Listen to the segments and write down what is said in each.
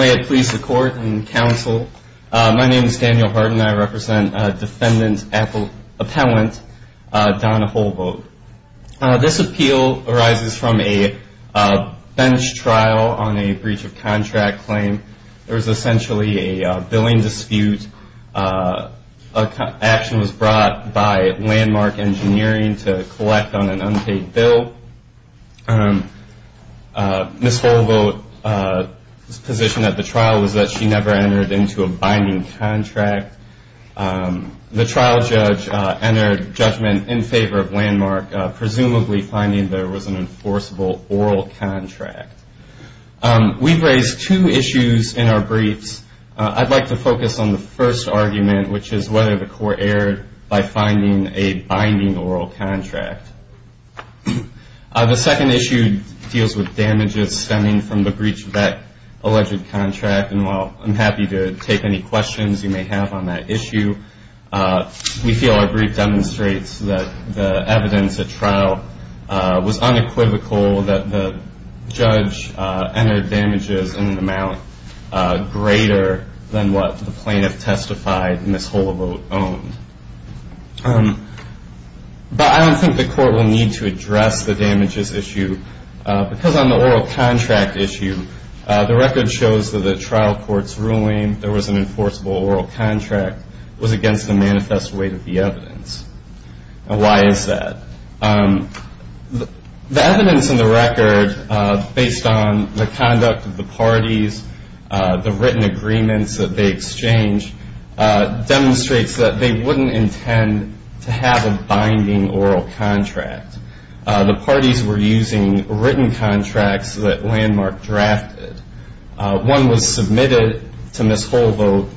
May it please the Court and Counsel, my name is Daniel Harden and I represent Defendant Appellant Donna Holevoet. This appeal arises from a bench trial on a breach of contract claim. There was essentially a billing dispute. Action was brought by Landmark Engineering to collect on an unpaid bill. Ms. Holevoet's position at the trial was that she never entered into a binding contract. The trial judge entered judgment in favor of Landmark, presumably finding there was an enforceable oral contract. We've raised two issues in our briefs. I'd like to focus on the first argument, which is whether the court erred by finding a binding oral contract. The second issue deals with damages stemming from the breach of that alleged contract. And while I'm happy to take any questions you may have on that issue, we feel our brief demonstrates that the evidence at trial was unequivocal that the judge entered damages in an amount greater than what the plaintiff testified Ms. Holevoet owned. But I don't think the court will need to address the damages issue because on the oral contract issue the record shows that the trial court's ruling there was an enforceable oral contract was against the manifest weight of the evidence. Why is that? The evidence in the record, based on the conduct of the parties, the written agreements that they exchanged, demonstrates that they wouldn't intend to have a binding oral contract. The parties were using written contracts that Landmark drafted. One was submitted to Ms. Holevoet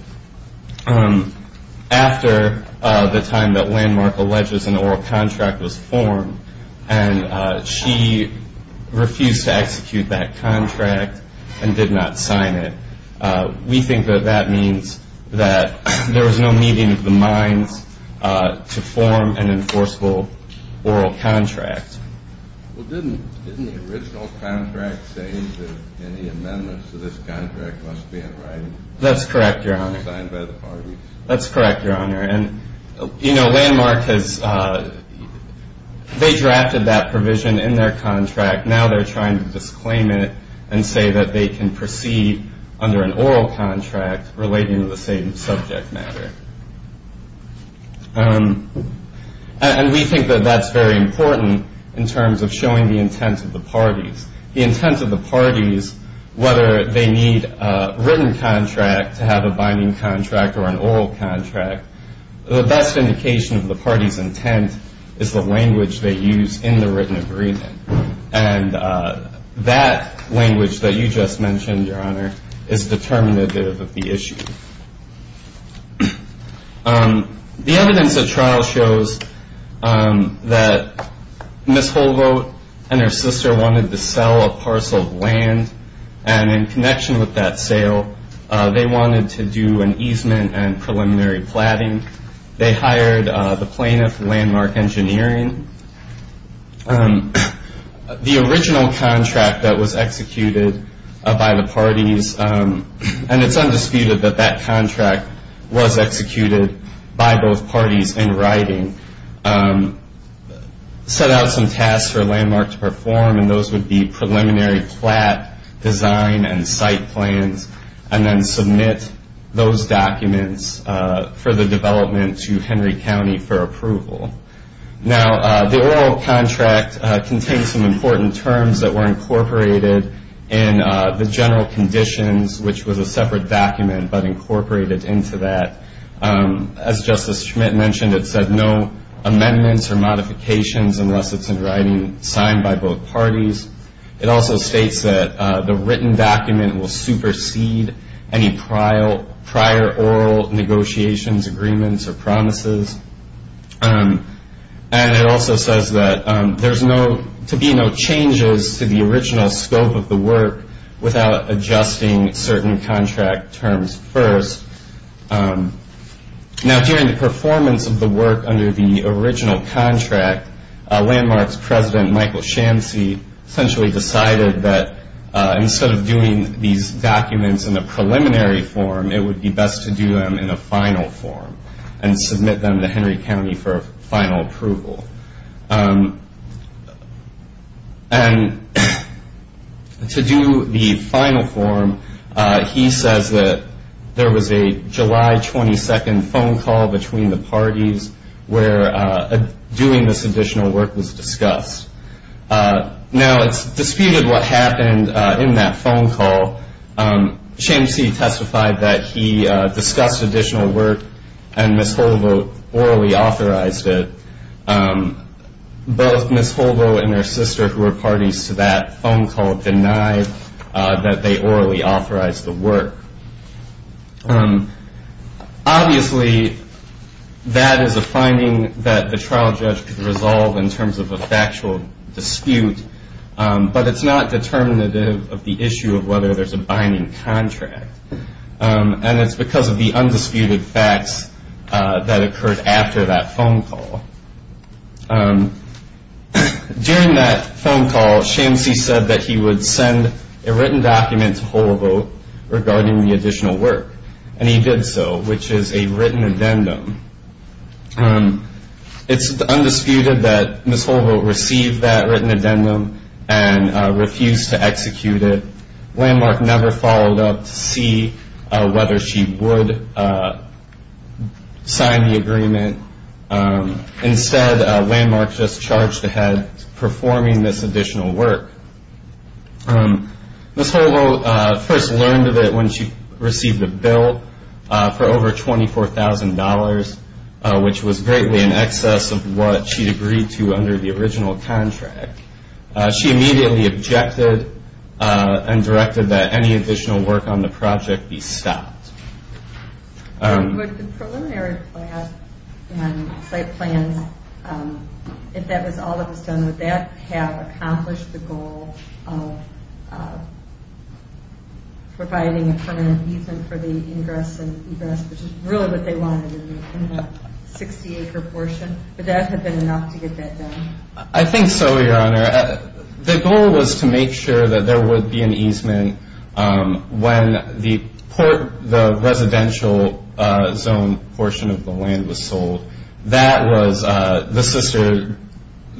after the time that Landmark alleges an oral contract was formed, and she refused to execute that contract and did not sign it. We think that that means that there was no meeting of the minds to form an enforceable oral contract. Well, didn't the original contract say that any amendments to this contract must be in writing? That's correct, Your Honor. Signed by the parties. That's correct, Your Honor. And, you know, Landmark has, they drafted that provision in their contract. Now they're trying to disclaim it and say that they can proceed under an oral contract relating to the same subject matter. And we think that that's very important in terms of showing the intent of the parties. The intent of the parties, whether they need a written contract to have a binding contract or an oral contract, the best indication of the party's intent is the language they use in the written agreement. And that language that you just mentioned, Your Honor, is determinative of the issue. The evidence of trial shows that Ms. Holvoth and her sister wanted to sell a parcel of land. And in connection with that sale, they wanted to do an easement and preliminary platting. They hired the plaintiff, Landmark Engineering. The original contract that was executed by the parties, and it's undisputed that that contract was executed by both parties in writing, set out some tasks for Landmark to perform. And those would be preliminary plat design and site plans, and then submit those documents for the development to Henry County for approval. Now, the oral contract contains some important terms that were incorporated in the general conditions, which was a separate document but incorporated into that. As Justice Schmitt mentioned, it said no amendments or modifications unless it's in writing signed by both parties. It also states that the written document will supersede any prior oral negotiations, agreements, or promises. And it also says that there's to be no changes to the original scope of the work without adjusting certain contract terms first. Now, during the performance of the work under the original contract, Landmark's president, Michael Shamsy, essentially decided that instead of doing these documents in a preliminary form, it would be best to do them in a final form and submit them to Henry County for final approval. And to do the final form, he says that there was a July 22nd phone call between the parties where doing this additional work was discussed. Now, it's disputed what happened in that phone call. Shamsy testified that he discussed additional work and Ms. Holdo orally authorized it. Both Ms. Holdo and her sister, who were parties to that phone call, denied that they orally authorized the work. Obviously, that is a finding that the trial judge could resolve in terms of a factual dispute, but it's not determinative of the issue of whether there's a binding contract. And it's because of the undisputed facts that occurred after that phone call. During that phone call, Shamsy said that he would send a written document to Holdo regarding the additional work, and he did so, which is a written addendum. It's undisputed that Ms. Holdo received that written addendum and refused to execute it. Landmark never followed up to see whether she would sign the agreement. Instead, Landmark just charged ahead performing this additional work. Ms. Holdo first learned of it when she received a bill for over $24,000, which was greatly in excess of what she'd agreed to under the original contract. She immediately objected and directed that any additional work on the project be stopped. Would the preliminary plan and site plans, if that was all that was done, would that have accomplished the goal of providing a permanent easement for the ingress and egress, which is really what they wanted in the 60-acre portion? Would that have been enough to get that done? I think so, Your Honor. The goal was to make sure that there would be an easement when the residential zone portion of the land was sold. The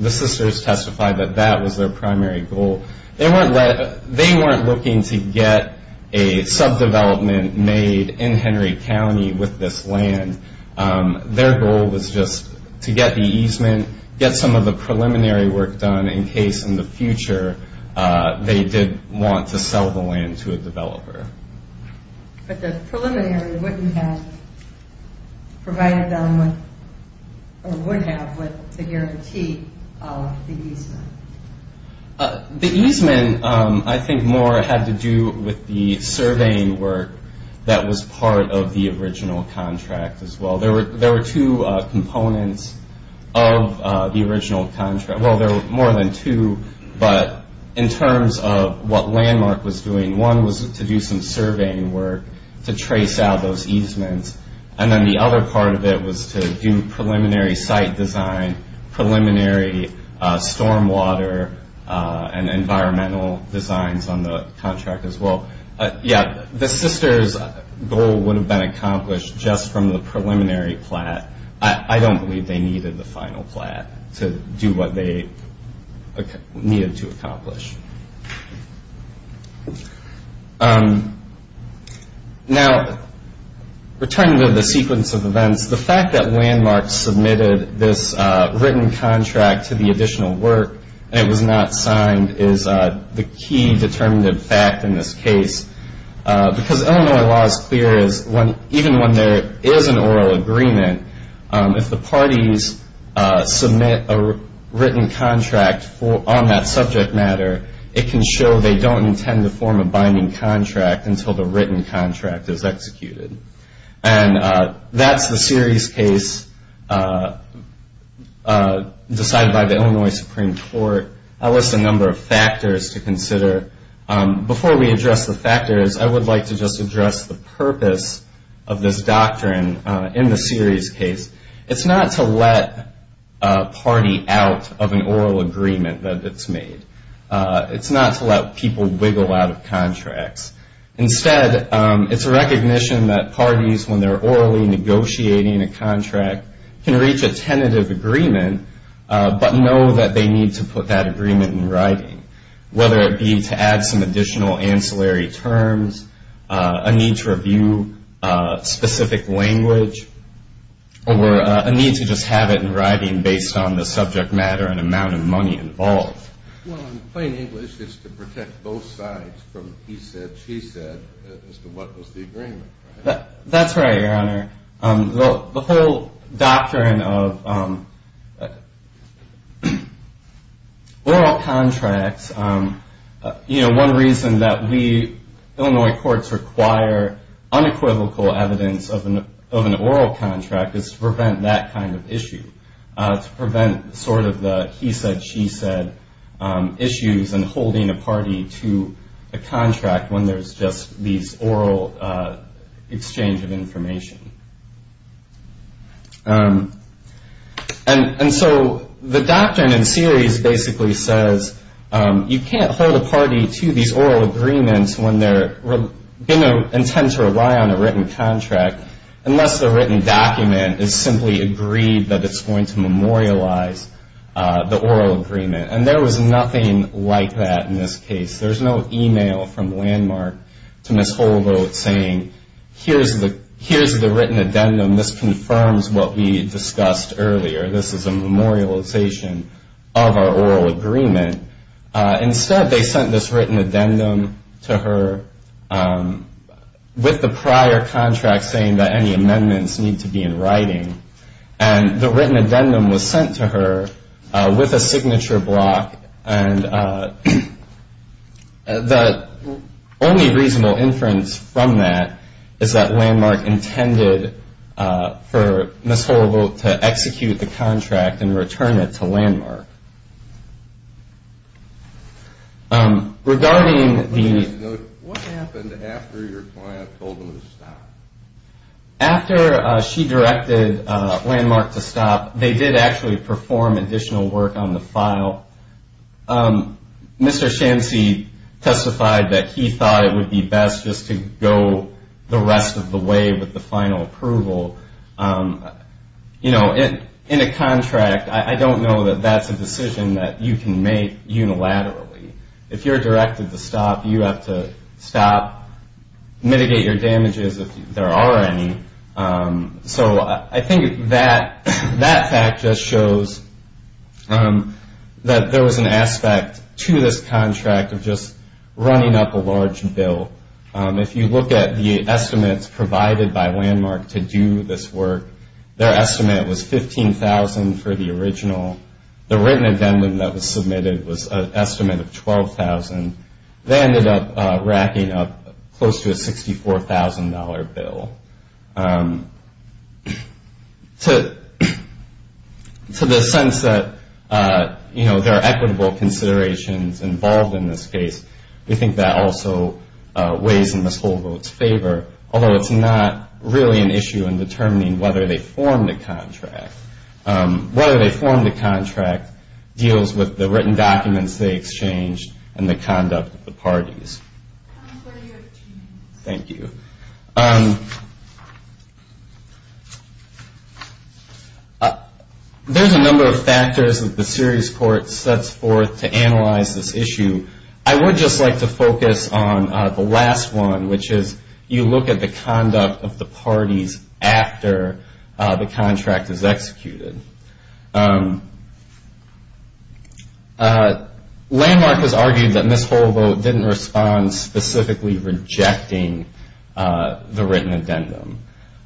sisters testified that that was their primary goal. They weren't looking to get a subdevelopment made in Henry County with this land. Their goal was just to get the easement, get some of the preliminary work done, in case in the future they did want to sell the land to a developer. But the preliminary wouldn't have provided them with or would have with the guarantee of the easement. The easement, I think, more had to do with the surveying work that was part of the original contract as well. There were two components of the original contract. Well, there were more than two, but in terms of what Landmark was doing, one was to do some surveying work to trace out those easements, and then the other part of it was to do preliminary site design, preliminary stormwater, and environmental designs on the contract as well. Yeah, the sisters' goal would have been accomplished just from the preliminary plat. I don't believe they needed the final plat to do what they needed to accomplish. Now, returning to the sequence of events, the fact that Landmark submitted this written contract to the additional work and it was not signed is the key determinative fact in this case. Because Illinois law is clear, even when there is an oral agreement, if the parties submit a written contract on that subject matter, it can show they don't intend to form a binding contract until the written contract is executed. And that's the series case decided by the Illinois Supreme Court. I list a number of factors to consider. Before we address the factors, I would like to just address the purpose of this doctrine in the series case. It's not to let a party out of an oral agreement that it's made. It's not to let people wiggle out of contracts. Instead, it's a recognition that parties, when they're orally negotiating a contract, can reach a tentative agreement but know that they need to put that agreement in writing, whether it be to add some additional ancillary terms, a need to review specific language, or a need to just have it in writing based on the subject matter and amount of money involved. Well, in plain English, it's to protect both sides from he said, she said, as to what was the agreement. That's right, Your Honor. The whole doctrine of oral contracts, one reason that Illinois courts require unequivocal evidence of an oral contract is to prevent that kind of issue, to prevent sort of the he said, she said issues and holding a party to a contract when there's just these oral exchange of information. And so the doctrine in series basically says, you can't hold a party to these oral agreements when they're going to intend to rely on a written contract unless the written document is simply agreed that it's going to memorialize the oral agreement. And there was nothing like that in this case. There's no e-mail from Landmark to Ms. Holdo saying, here's the written addendum. This confirms what we discussed earlier. This is a memorialization of our oral agreement. Instead, they sent this written addendum to her with the prior contract saying that any amendments need to be in writing. And the written addendum was sent to her with a signature block, and the only reasonable inference from that is that Landmark intended for Ms. Holdo to execute the contract and return it to Landmark. Regarding the- What happened after your client told them to stop? After she directed Landmark to stop, they did actually perform additional work on the file. Mr. Shancy testified that he thought it would be best just to go the rest of the way with the final approval. In a contract, I don't know that that's a decision that you can make unilaterally. If you're directed to stop, you have to stop, mitigate your damages if there are any. So I think that fact just shows that there was an aspect to this contract of just running up a large bill. If you look at the estimates provided by Landmark to do this work, their estimate was $15,000 for the original. The written addendum that was submitted was an estimate of $12,000. They ended up racking up close to a $64,000 bill. To the sense that, you know, there are equitable considerations involved in this case, we think that also weighs in Ms. Holdo's favor, although it's not really an issue in determining whether they formed a contract. Whether they formed a contract deals with the written documents they exchanged and the conduct of the parties. Thank you. There's a number of factors that the serious court sets forth to analyze this issue. I would just like to focus on the last one, which is you look at the conduct of the parties after the contract is executed. Landmark has argued that Ms. Holdo didn't respond specifically rejecting the written addendum.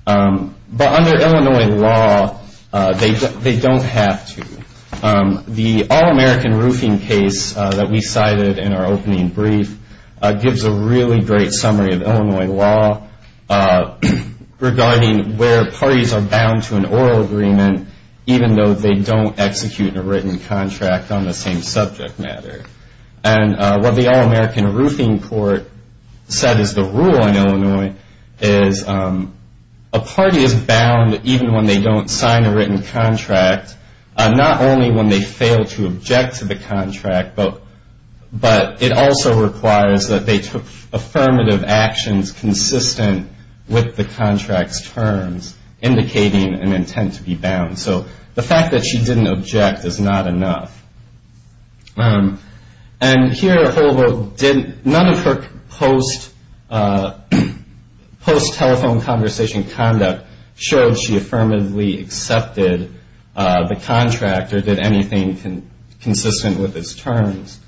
But under Illinois law, they don't have to. The All-American Roofing case that we cited in our opening brief gives a really great summary of Illinois law regarding where parties are bound to an oral agreement, even though they don't execute a written contract on the same subject matter. And what the All-American Roofing Court said is the rule in Illinois is a party is bound, even when they don't sign a written contract, not only when they fail to object to the contract, but it also requires that they take affirmative actions consistent with the contract's terms, indicating an intent to be bound. So the fact that she didn't object is not enough. And here Holdo, none of her post-telephone conversation conduct showed she affirmatively accepted the contract or did anything consistent with its terms.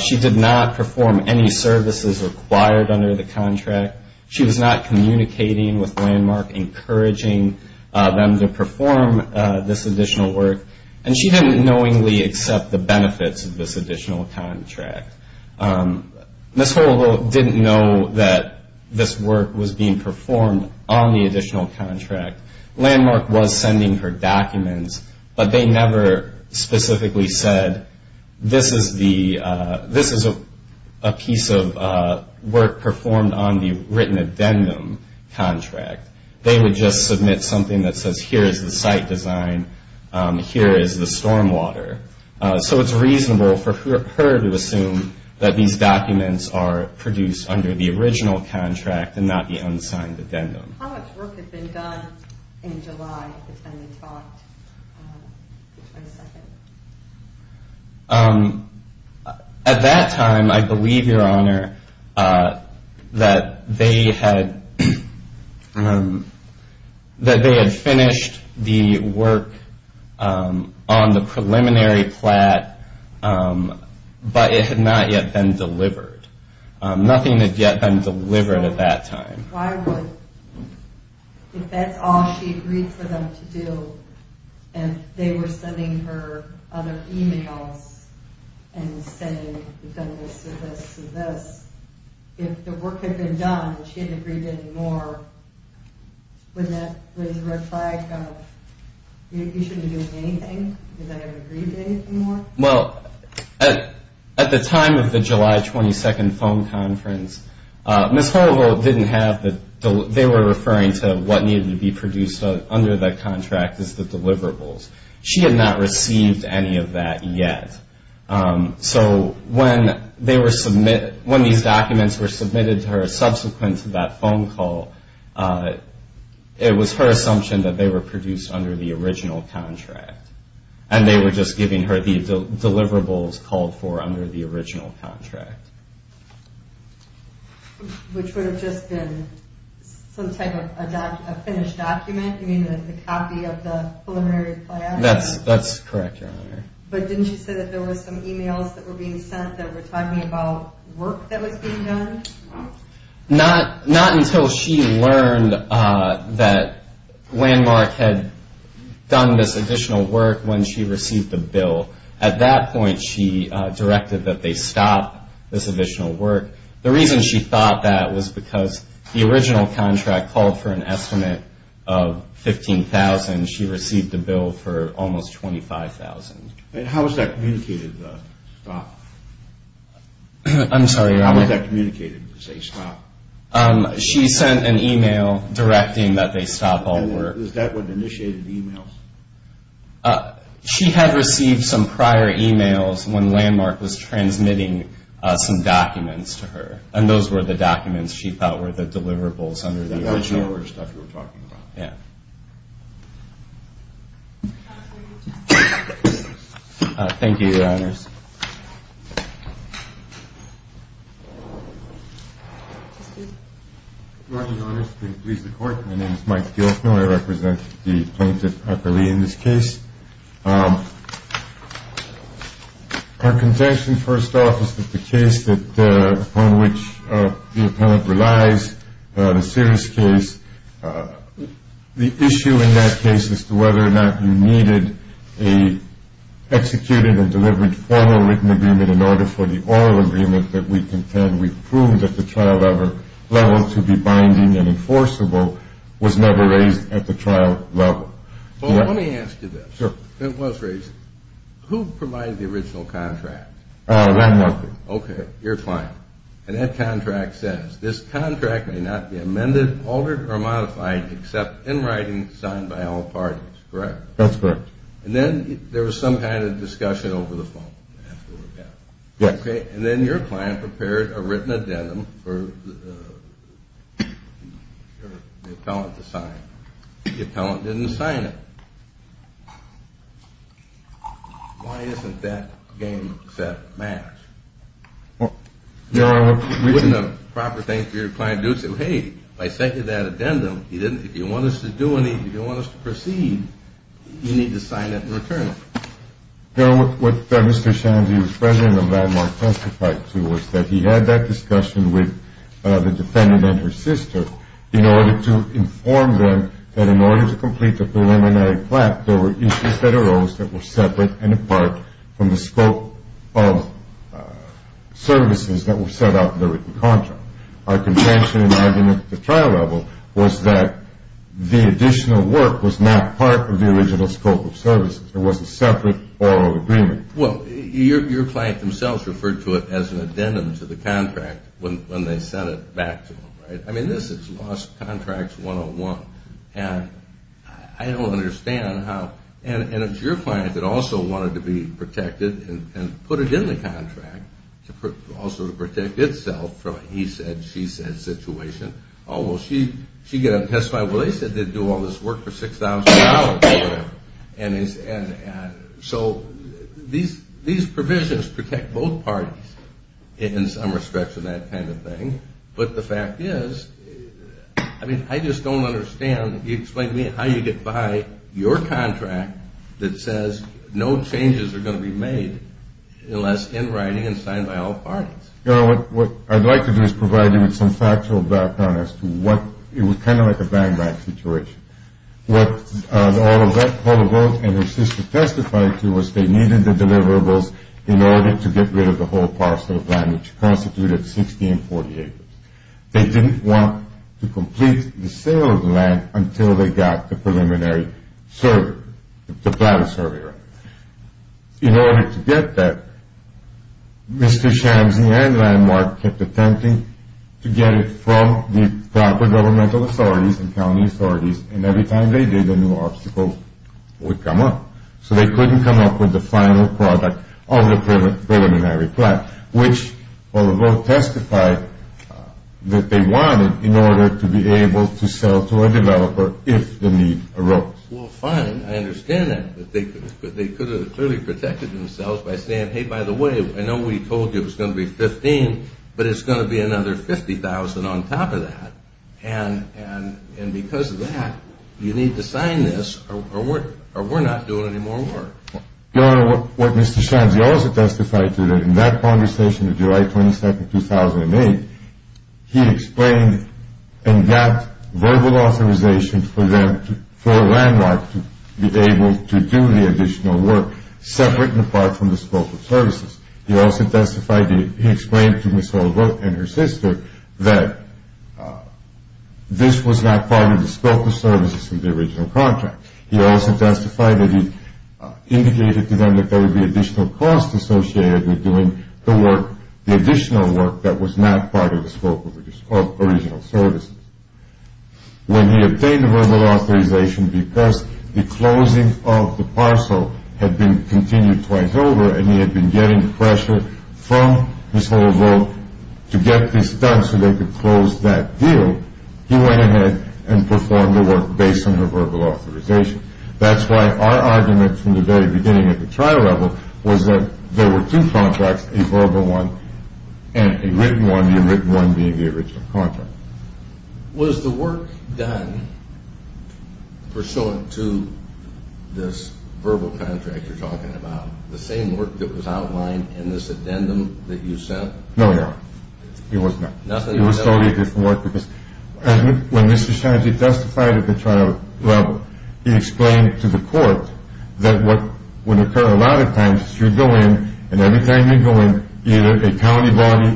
She did not perform any services required under the contract. She was not communicating with Landmark, encouraging them to perform this additional work. And she didn't knowingly accept the benefits of this additional contract. Ms. Holdo didn't know that this work was being performed on the additional contract. Landmark was sending her documents, but they never specifically said, this is a piece of work performed on the written addendum contract. They would just submit something that says, here is the site design, here is the stormwater. So it's reasonable for her to assume that these documents are produced under the original contract and not the unsigned addendum. How much work had been done in July? At that time, I believe, Your Honor, that they had finished the work on the preliminary plat, but it had not yet been delivered. Nothing had yet been delivered at that time. Why would, if that's all she agreed for them to do, and they were sending her other e-mails and saying, we've done this, we've done this, we've done this, if the work had been done and she hadn't agreed to any more, wouldn't that raise a red flag of, you shouldn't be doing anything because I haven't agreed to anything more? Well, at the time of the July 22 phone conference, Ms. Hovold didn't have the, they were referring to what needed to be produced under the contract as the deliverables. She had not received any of that yet. So when these documents were submitted to her subsequent to that phone call, it was her assumption that they were produced under the original contract, and they were just giving her the deliverables called for under the original contract. Which would have just been some type of a finished document, you mean a copy of the preliminary plat? That's correct, Your Honor. But didn't she say that there were some e-mails that were being sent that were talking about work that was being done? Not until she learned that Landmark had done this additional work when she received the bill. At that point she directed that they stop this additional work. The reason she thought that was because the original contract called for an estimate of $15,000. She received the bill for almost $25,000. How was that communicated to stop? She sent an e-mail directing that they stop all work. Was that what initiated the e-mails? She had received some prior e-mails when Landmark was transmitting some documents to her, and those were the documents she thought were the deliverables under the original contract. Thank you, Your Honors. Good morning, Your Honors. Please be seated. My name is Mike Dielfner. I represent the plaintiff, Dr. Lee, in this case. Our contention, first off, is that the case upon which the appellant relies, the serious case, the issue in that case as to whether or not you needed an executed and delivered formal written agreement in order for the oral agreement that we contend we've proved at the trial level to be binding and enforceable was never raised at the trial level. Well, let me ask you this. It was raised. Who provided the original contract? Landmark did. Okay. Your client. And that contract says, this contract may not be amended, altered, or modified except in writing signed by all parties, correct? That's correct. And then there was some kind of discussion over the phone. Okay. And then your client prepared a written addendum for the appellant to sign. The appellant didn't sign it. Why isn't that game set match? Wasn't a proper thing for your client to do to say, hey, I sent you that addendum. If you want us to do anything, if you want us to proceed, you need to sign it and return it. What Mr. Shanzy, who was president of Landmark, testified to was that he had that discussion with the defendant and her sister in order to inform them that in order to complete the preliminary plan, there were issues that arose that were separate and apart from the scope of services that were set out in the written contract. Our contention and argument at the trial level was that the additional work was not part of the original scope of services. It was a separate oral agreement. Well, your client themselves referred to it as an addendum to the contract when they sent it back to them, right? I mean, this is lost contracts 101. And I don't understand how And it's your client that also wanted to be protected and put it in the contract also to protect itself from a he said, she said situation. Oh, well, she got it testified. Well, they said they'd do all this work for $6,000 or whatever. These provisions protect both parties in some respects in that kind of thing. But the fact is, I mean, I just don't understand. You explain to me how you get by your contract that says no changes are going to be made unless in writing and signed by all parties. What I'd like to do is provide you with some factual background as to what it was kind of like a bang bang situation. What all of that and her sister testified to was they didn't want to complete the sale of the land until they got the preliminary survey, the plan of survey right. In order to get that Mr. Shamsi and Landmark kept attempting to get it from the proper governmental authorities and county authorities. And every time they did, a new obstacle would come up. So they couldn't come up with the final product of the preliminary plan, which testified that they wanted in order to be able to sell to a developer if the need arose. Well, fine. I understand that. But they could have clearly protected themselves by saying, hey, by the way, I know we told you it was going to be $15,000, but it's going to be another $50,000 on top of that. And because of that, you need to sign this or we're not doing any more work. Your Honor, what Mr. Shamsi also testified to in that conversation of July 22, 2008, he explained and got verbal authorization for Landmark to be able to do the additional work separate and apart from the scope of services. He also testified he explained to Ms. Holbrook and her sister that this was not part of the scope of services in the original contract. He also testified that he indicated to them that there would be additional costs associated with doing the work, the additional work that was not part of the scope of original services. When he obtained verbal authorization because the closing of the parcel had been continued twice over and he had been getting pressure from Ms. Holbrook to get this done so they could close that deal, he went ahead and performed the work based on her verbal authorization. That's why our argument from the very beginning at the trial level was that there were two contracts, a verbal one and a written one, the written one being the original contract. Was the work done pursuant to this verbal contract you're talking about, the same work that was outlined in this addendum that you sent? No, Your Honor. It was not. It was totally different work because when Mr. Shamsi testified at the trial level he explained to the court that what would occur a lot of times is you go in and every time you go in, either a county body,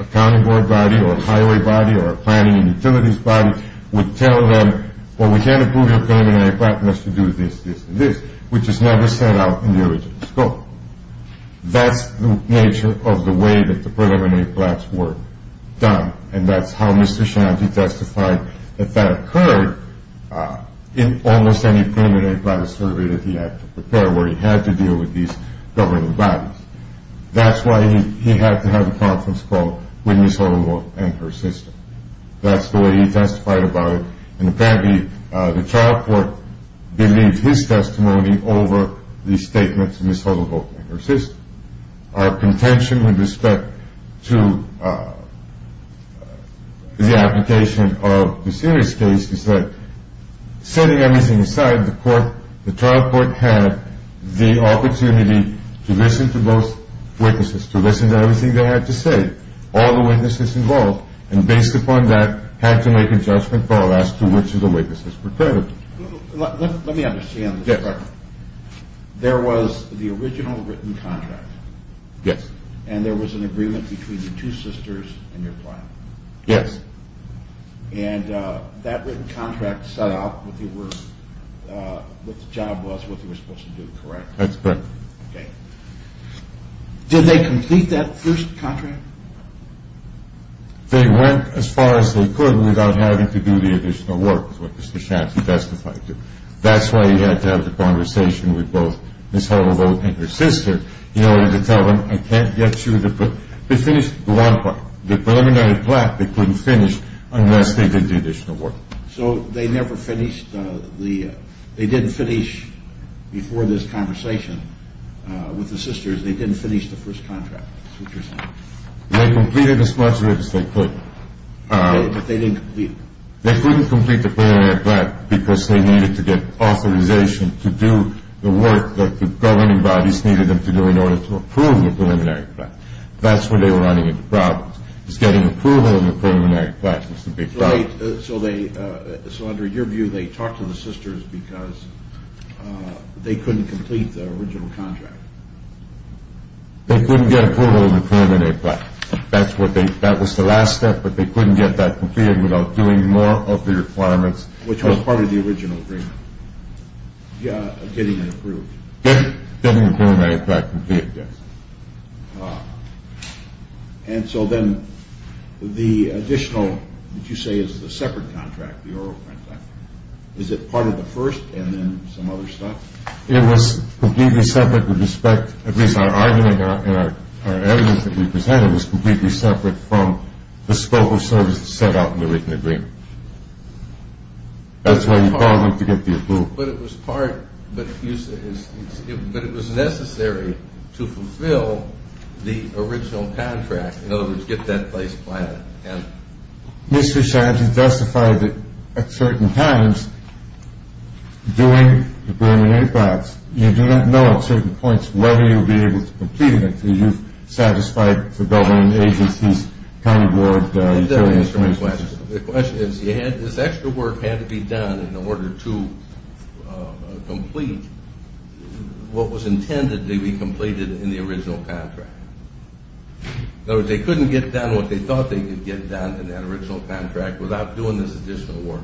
a county board body, or a highway body, or a planning and utilities body would tell them, well, we can't approve your preliminary plan unless you do this, this, and this, which is never set out in the original scope. That's the nature of the way that the preliminary plans were done and that's how Mr. Shamsi testified that that occurred in almost any preliminary plan survey that he had to prepare where he had to deal with these governing bodies. That's why he had to have a conference call with Ms. Huddleworth and her sister. That's the way he testified about it and apparently the trial court believed his testimony over the statements of Ms. Huddleworth and her sister. Our contention with respect to the application of the serious case is that setting everything aside, the trial court had the opportunity to listen to both witnesses, to listen to everything they had to say, all the witnesses involved, and based upon that, had to make a judgment call as to which of the witnesses were credible. Let me understand this. There was the original written contract. Yes. And there was an agreement between the two sisters and your client. Yes. And that written contract set out what the job was, what they were supposed to do, correct? That's correct. Okay. Did they complete that first contract? They went as far as they could without having to do the additional work, is what Mr. Shanty testified to. That's why he had to have the conversation with both Ms. Huddleworth and her sister in order to tell them, I can't get you the preliminary plan, they couldn't finish unless they did the additional work. So they never finished, they didn't finish before this conversation with the sisters, they didn't finish the first contract, Mr. Shanty. They completed as much work as they could. But they didn't complete it. They couldn't complete the preliminary plan because they needed to get authorization to do the work that the governing bodies needed them to do in order to approve the preliminary plan. That's where they were running into problems, is getting approval in the preliminary plan. So under your view, they talked to the sisters because they couldn't complete the original contract. They couldn't get approval in the preliminary plan. That was the last step, but they couldn't get that completed without doing more of the requirements. Which was part of the original agreement. Yeah, getting it approved. Getting the preliminary plan completed, yes. And so then the additional that you say is the separate contract, the oral print contract, is it part of the first and then some other stuff? It was completely separate with respect, at least our argument and our evidence that we presented, was completely separate from the scope of services set out in the written agreement. That's why you called them to get the approval. But it was necessary to fulfill the original contract, in other words, get that place planned. Mr. Shad, you've justified that at certain times, during the preliminary process, you do not know at certain points whether you'll be able to complete it until you've satisfied the government agencies, county board, utilities. The question is, this extra work had to be done in order to complete what was intended to be completed in the original contract. In other words, they couldn't get done what they thought they could get done in that original contract without doing this additional work.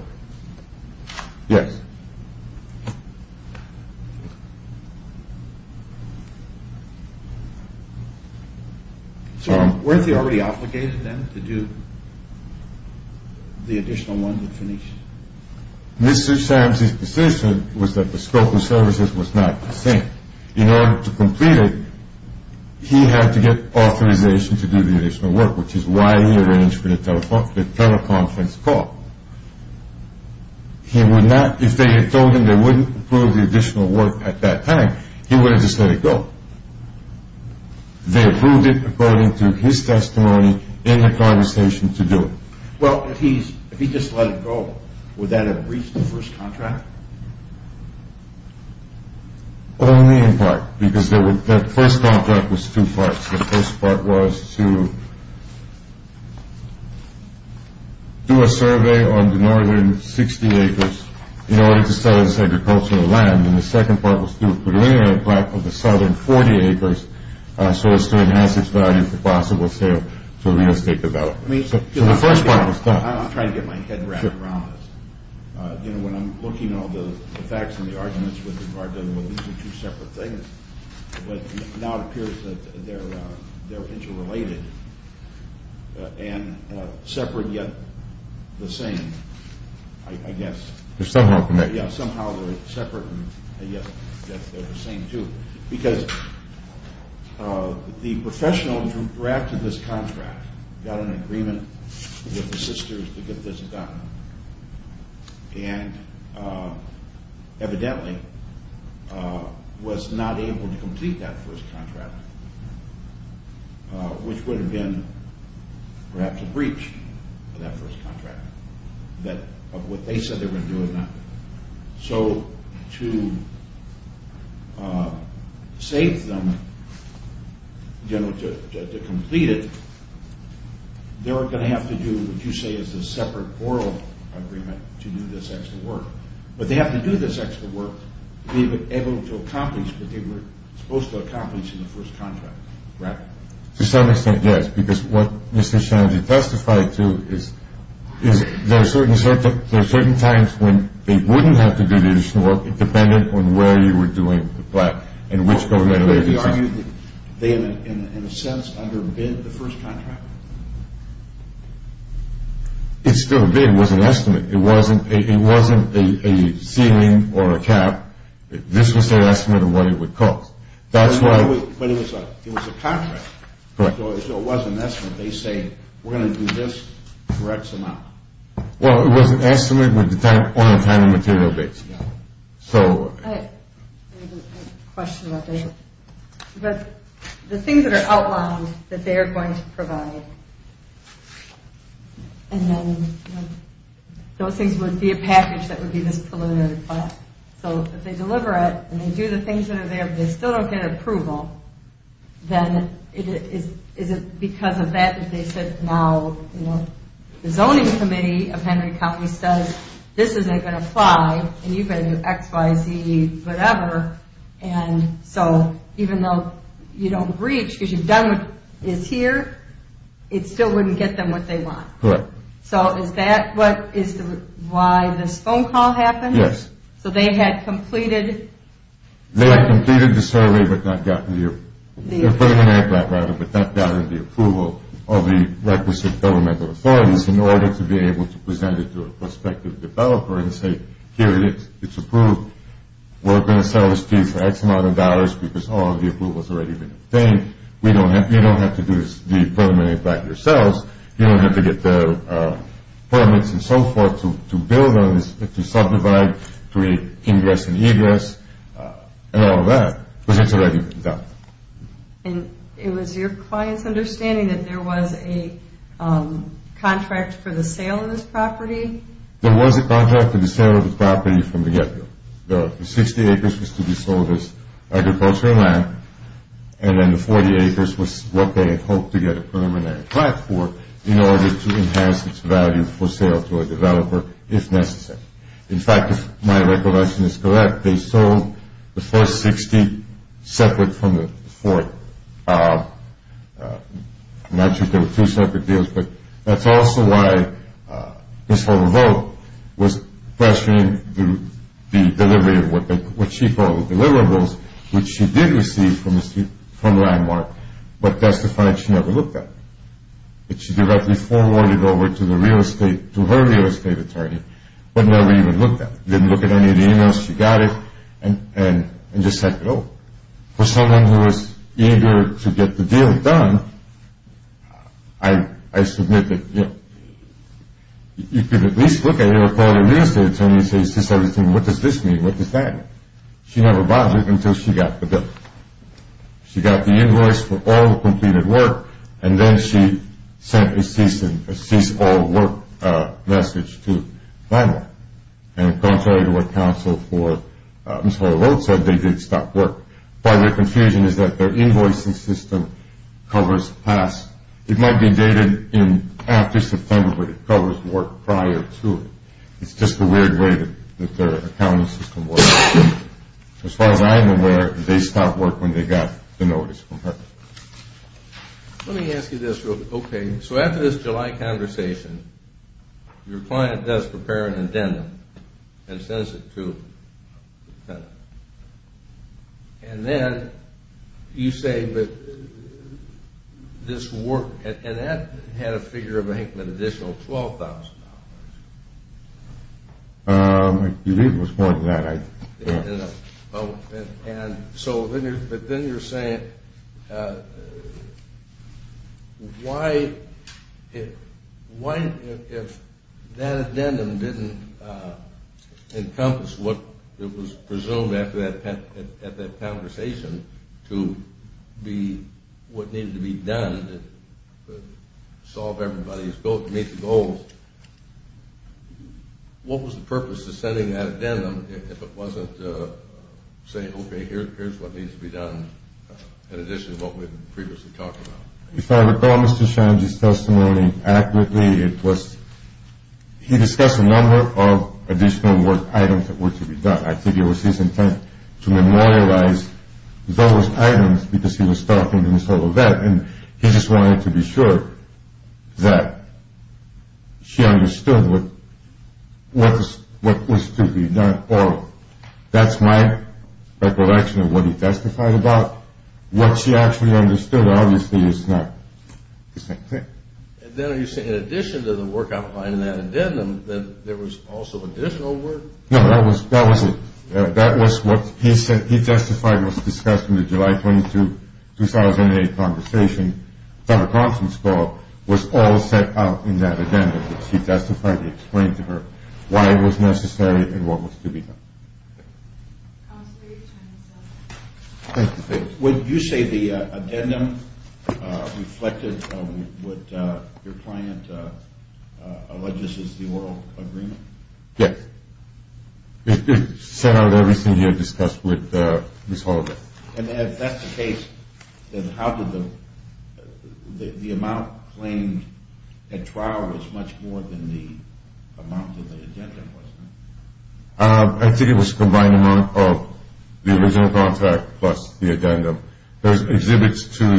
Yes. So where is he already obligated then to do the additional work that's finished? Mr. Shad's decision was that the scope of services was not the same. In order to complete it, he had to get authorization to do the additional work, which is why he arranged for the teleconference call. If they had told him they wouldn't approve the additional work at that time, he would have just let it go. They approved it according to his testimony in the conversation to do it. Well, if he just let it go, would that have reached the first contract? Only in part, because the first contract was two parts. The first part was to do a survey on the northern 60 acres in order to sell his agricultural land, and the second part was to put in an impact on the southern 40 acres so as to enhance its value for possible sale to real estate developers. So the first part was done. I'm trying to get my head around this. You know, when I'm looking at all the facts and the arguments with regard to, well, now it appears that they're interrelated and separate yet the same, I guess. They're somehow connected. Yeah, somehow they're separate and yet they're the same, too. Because the professional who drafted this contract got an agreement with the sisters to get this done and evidently was not able to complete that first contract, which would have been perhaps a breach of that first contract, of what they said they were going to do or not. So to save them, you know, to complete it, they were going to have to do what you say is a separate oral agreement to do this extra work. But they have to do this extra work to be able to accomplish what they were supposed to accomplish in the first contract, right? To some extent, yes, because what Mr. Shanzy testified to is there are certain times when they wouldn't have to do the additional work dependent on where you were doing the plot and which government agency. They, in a sense, underbid the first contract? It's still a bid. It was an estimate. It wasn't a ceiling or a cap. This was their estimate of what it would cost. But it was a contract. Correct. So it wasn't an estimate. They say we're going to do this, correct some out. Well, it was an estimate on a time and material basis. So I have a question about that. The things that are outlined that they are going to provide, and then those things would be a package that would be this preliminary plan. So if they deliver it and they do the things that are there, but they still don't get approval, then is it because of that that they said, now the zoning committee of Henry County says this isn't going to apply and you've got to do X, Y, Z, whatever, and so even though you don't reach because you've done what is here, it still wouldn't get them what they want. Correct. So is that why this phone call happened? Yes. So they had completed? They had completed the survey but not gotten the approval of the requisite governmental authorities in order to be able to present it to a prospective developer and say, here it is. It's approved. We're going to sell this to you for X amount of dollars because all of the approval has already been obtained. You don't have to do the preliminary plan yourselves. You don't have to get the permits and so forth to build on this, to subdivide, create ingress and egress and all of that because it's already been done. And it was your client's understanding that there was a contract for the sale of this property? There was a contract for the sale of the property from the get-go. The 60 acres was to be sold as agricultural land and then the 40 acres was what they hoped to get a preliminary plan for in order to enhance its value for sale to a developer if necessary. In fact, if my recollection is correct, they sold the first 60 separate from the fourth. I'm not sure if there were two separate deals, but that's also why Ms. Volvo was questioning the delivery of what she called deliverables, which she did receive from Landmark, but testified she never looked at it. She directly forwarded it over to her real estate attorney but never even looked at it. She didn't look at any of the emails. She got it and just let go. For someone who was eager to get the deal done, I submit that you could at least look at it or call your real estate attorney and say, is this everything? What does this mean? What does that mean? She never bothered until she got the bill. She got the invoice for all the completed work and then she sent a cease all work message to Landmark. And contrary to what counsel for Ms. Volvo said, they did stop work. Part of the confusion is that their invoicing system covers past. It might be dated in after September, but it covers work prior to it. It's just a weird way that their accounting system works. As far as I'm aware, they stopped work when they got the notice from her. Let me ask you this real quick. Okay, so after this July conversation, your client does prepare an addendum and sends it to the tenant. And then you say that this work, and that had a figure of an additional $12,000. I believe it was more than that. And so then you're saying why, if that addendum didn't encompass what it was presumed at that conversation to be what needed to be done to solve everybody's goals, what was the purpose of sending that addendum if it wasn't saying, okay, here's what needs to be done in addition to what we've previously talked about? If I recall Mr. Shange's testimony accurately, it was he discussed a number of additional work items that were to be done. I think it was his intent to memorialize those items because he was talking to Ms. Ovett and he just wanted to be sure that she understood what was to be done. Or that's my recollection of what he testified about. What she actually understood obviously is not the same thing. And then are you saying in addition to the work outlined in that addendum, that there was also additional work? No, that was it. That was what he said he testified was discussed in the July 22, 2008 conversation. That a conference call was all set out in that addendum. He testified, he explained to her why it was necessary and what was to be done. Counselor, your time is up. Thank you. Would you say the addendum reflected what your client alleges is the oral agreement? Yes. It set out everything he had discussed with Ms. Ovett. And if that's the case, then how did the amount claimed at trial was much more than the amount that the addendum was? I think it was a combined amount of the original contract plus the addendum. There's exhibits in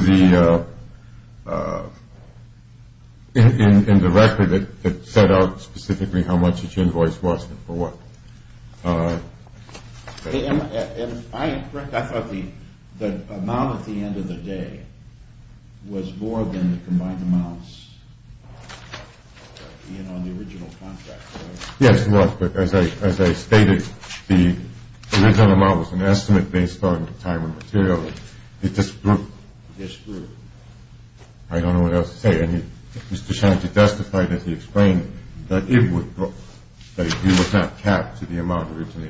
the record that set out specifically how much each invoice was and for what. Am I correct? I thought the amount at the end of the day was more than the combined amounts on the original contract. Yes, it was. But as I stated, the original amount was an estimate based on the time and material. It just grew. It just grew. I don't know what else to say. I need Mr. Shanty to justify that he explained that it was not capped to the amount originally estimated.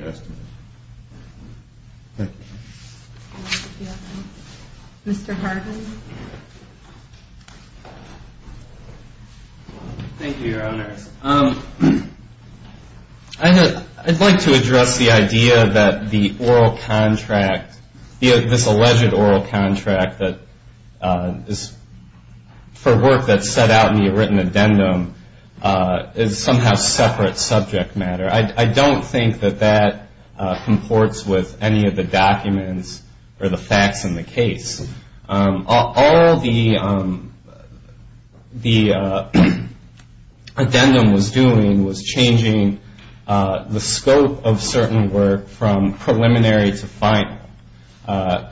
Thank you. Mr. Harden. Thank you, Your Honors. I'd like to address the idea that the oral contract, this alleged oral contract for work that's set out in the written addendum, is somehow separate subject matter. I don't think that that comports with any of the documents or the facts in the case. All the addendum was doing was changing the scope of certain work from preliminary to final.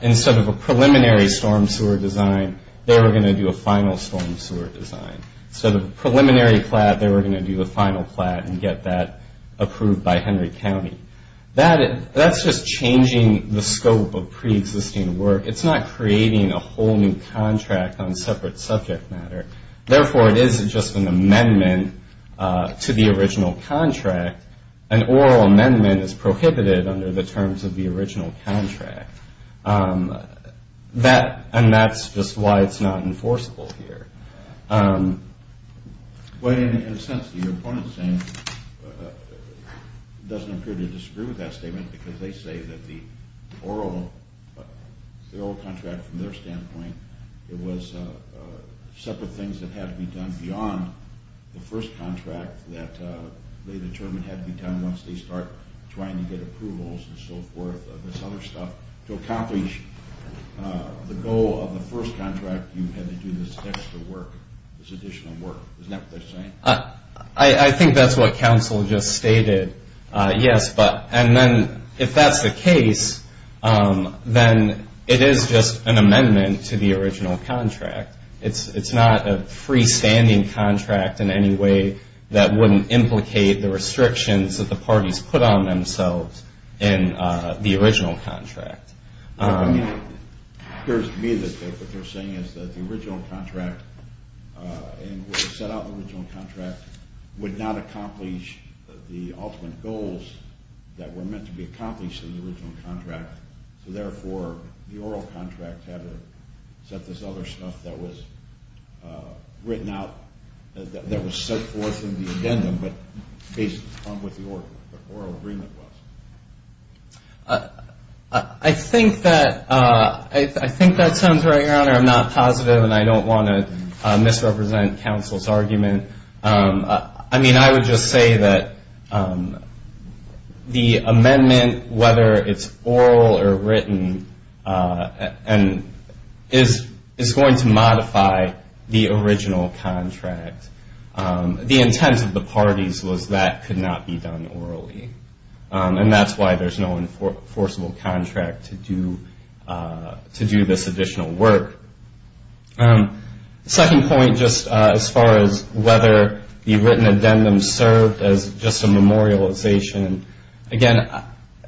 Instead of a preliminary storm sewer design, they were going to do a final storm sewer design. Instead of a preliminary plat, they were going to do the final plat and get that approved by Henry County. That's just changing the scope of preexisting work. It's not creating a whole new contract on separate subject matter. Therefore, it isn't just an amendment to the original contract. An oral amendment is prohibited under the terms of the original contract, and that's just why it's not enforceable here. In a sense, the opponent doesn't appear to disagree with that statement, because they say that the oral contract, from their standpoint, it was separate things that had to be done beyond the first contract that they determined had to be done once they start trying to get approvals and so forth of this other stuff. To accomplish the goal of the first contract, you had to do this extra work, this additional work. Isn't that what they're saying? I think that's what counsel just stated. Yes, and then if that's the case, then it is just an amendment to the original contract. It's not a freestanding contract in any way that wouldn't implicate the restrictions that the parties put on themselves in the original contract. It appears to me that what they're saying is that the original contract and what was set out in the original contract would not accomplish the ultimate goals that were meant to be accomplished in the original contract. So therefore, the oral contract had to set this other stuff that was written out, that was set forth in the addendum, but based upon what the oral agreement was. I think that sounds right, Your Honor. I'm not positive, and I don't want to misrepresent counsel's argument. I mean, I would just say that the amendment, whether it's oral or written, is going to modify the original contract. The intent of the parties was that could not be done orally, and that's why there's no enforceable contract to do this additional work. Second point, just as far as whether the written addendum served as just a memorialization, again,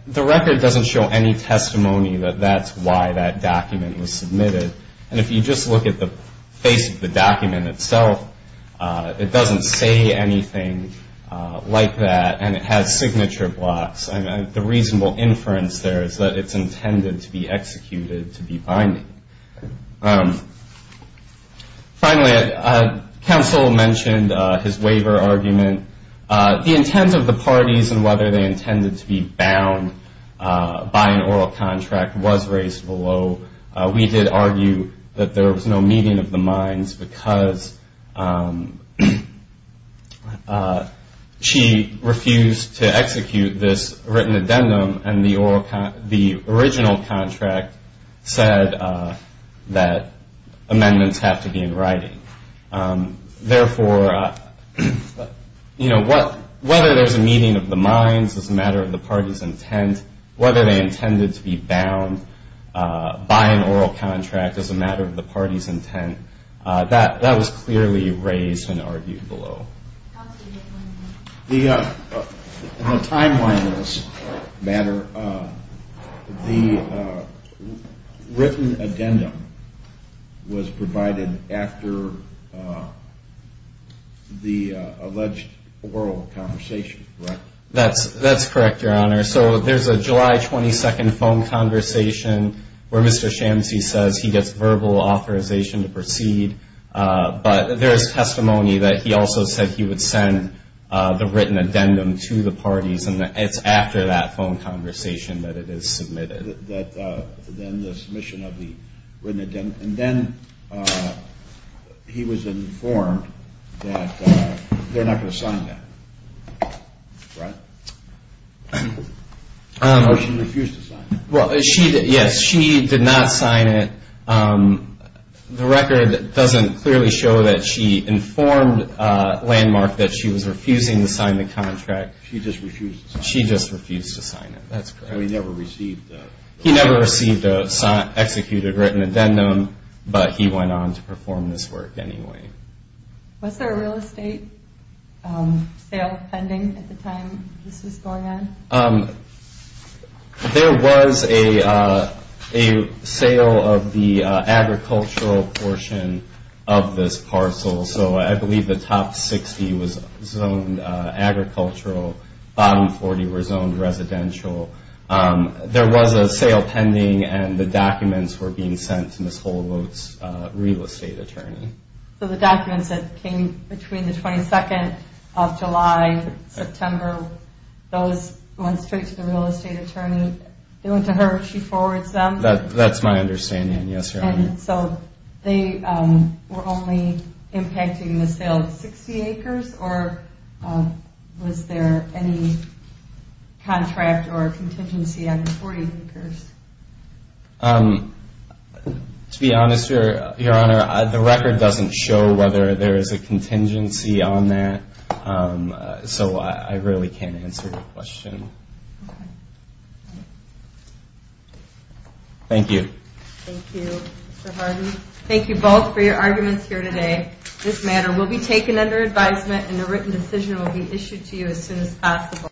the record doesn't show any testimony that that's why that document was submitted. And if you just look at the face of the document itself, it doesn't say anything like that, and it has signature blocks. I mean, the reasonable inference there is that it's intended to be executed to be binding. Finally, counsel mentioned his waiver argument. The intent of the parties and whether they intended to be bound by an oral contract was raised below. We did argue that there was no meeting of the minds because she refused to execute this written addendum, and the original contract said that amendments have to be in writing. Therefore, whether there's a meeting of the minds, it's a matter of the party's intent, and whether they intended to be bound by an oral contract is a matter of the party's intent. That was clearly raised and argued below. In the timeline of this matter, the written addendum was provided after the alleged oral conversation, correct? That's correct, Your Honor. So there's a July 22 phone conversation where Mr. Shamsie says he gets verbal authorization to proceed, but there is testimony that he also said he would send the written addendum to the parties, and it's after that phone conversation that it is submitted. Then the submission of the written addendum. And then he was informed that they're not going to sign that, right? Or she refused to sign it. Yes, she did not sign it. The record doesn't clearly show that she informed Landmark that she was refusing to sign the contract. She just refused to sign it. She just refused to sign it. That's correct. He never received an executed written addendum, but he went on to perform this work anyway. Was there a real estate sale pending at the time this was going on? There was a sale of the agricultural portion of this parcel, so I believe the top 60 was zoned agricultural, bottom 40 were zoned residential. There was a sale pending, and the documents were being sent to Ms. Holowot's real estate attorney. So the documents that came between the 22nd of July, September, those went straight to the real estate attorney. They went to her. She forwards them. That's my understanding, yes, Your Honor. So they were only impacting the sale of 60 acres, or was there any contract or contingency on the 40 acres? To be honest, Your Honor, the record doesn't show whether there is a contingency on that, so I really can't answer that question. Thank you. Thank you, Mr. Hardy. Thank you both for your arguments here today. This matter will be taken under advisement, and a written decision will be issued to you as soon as possible.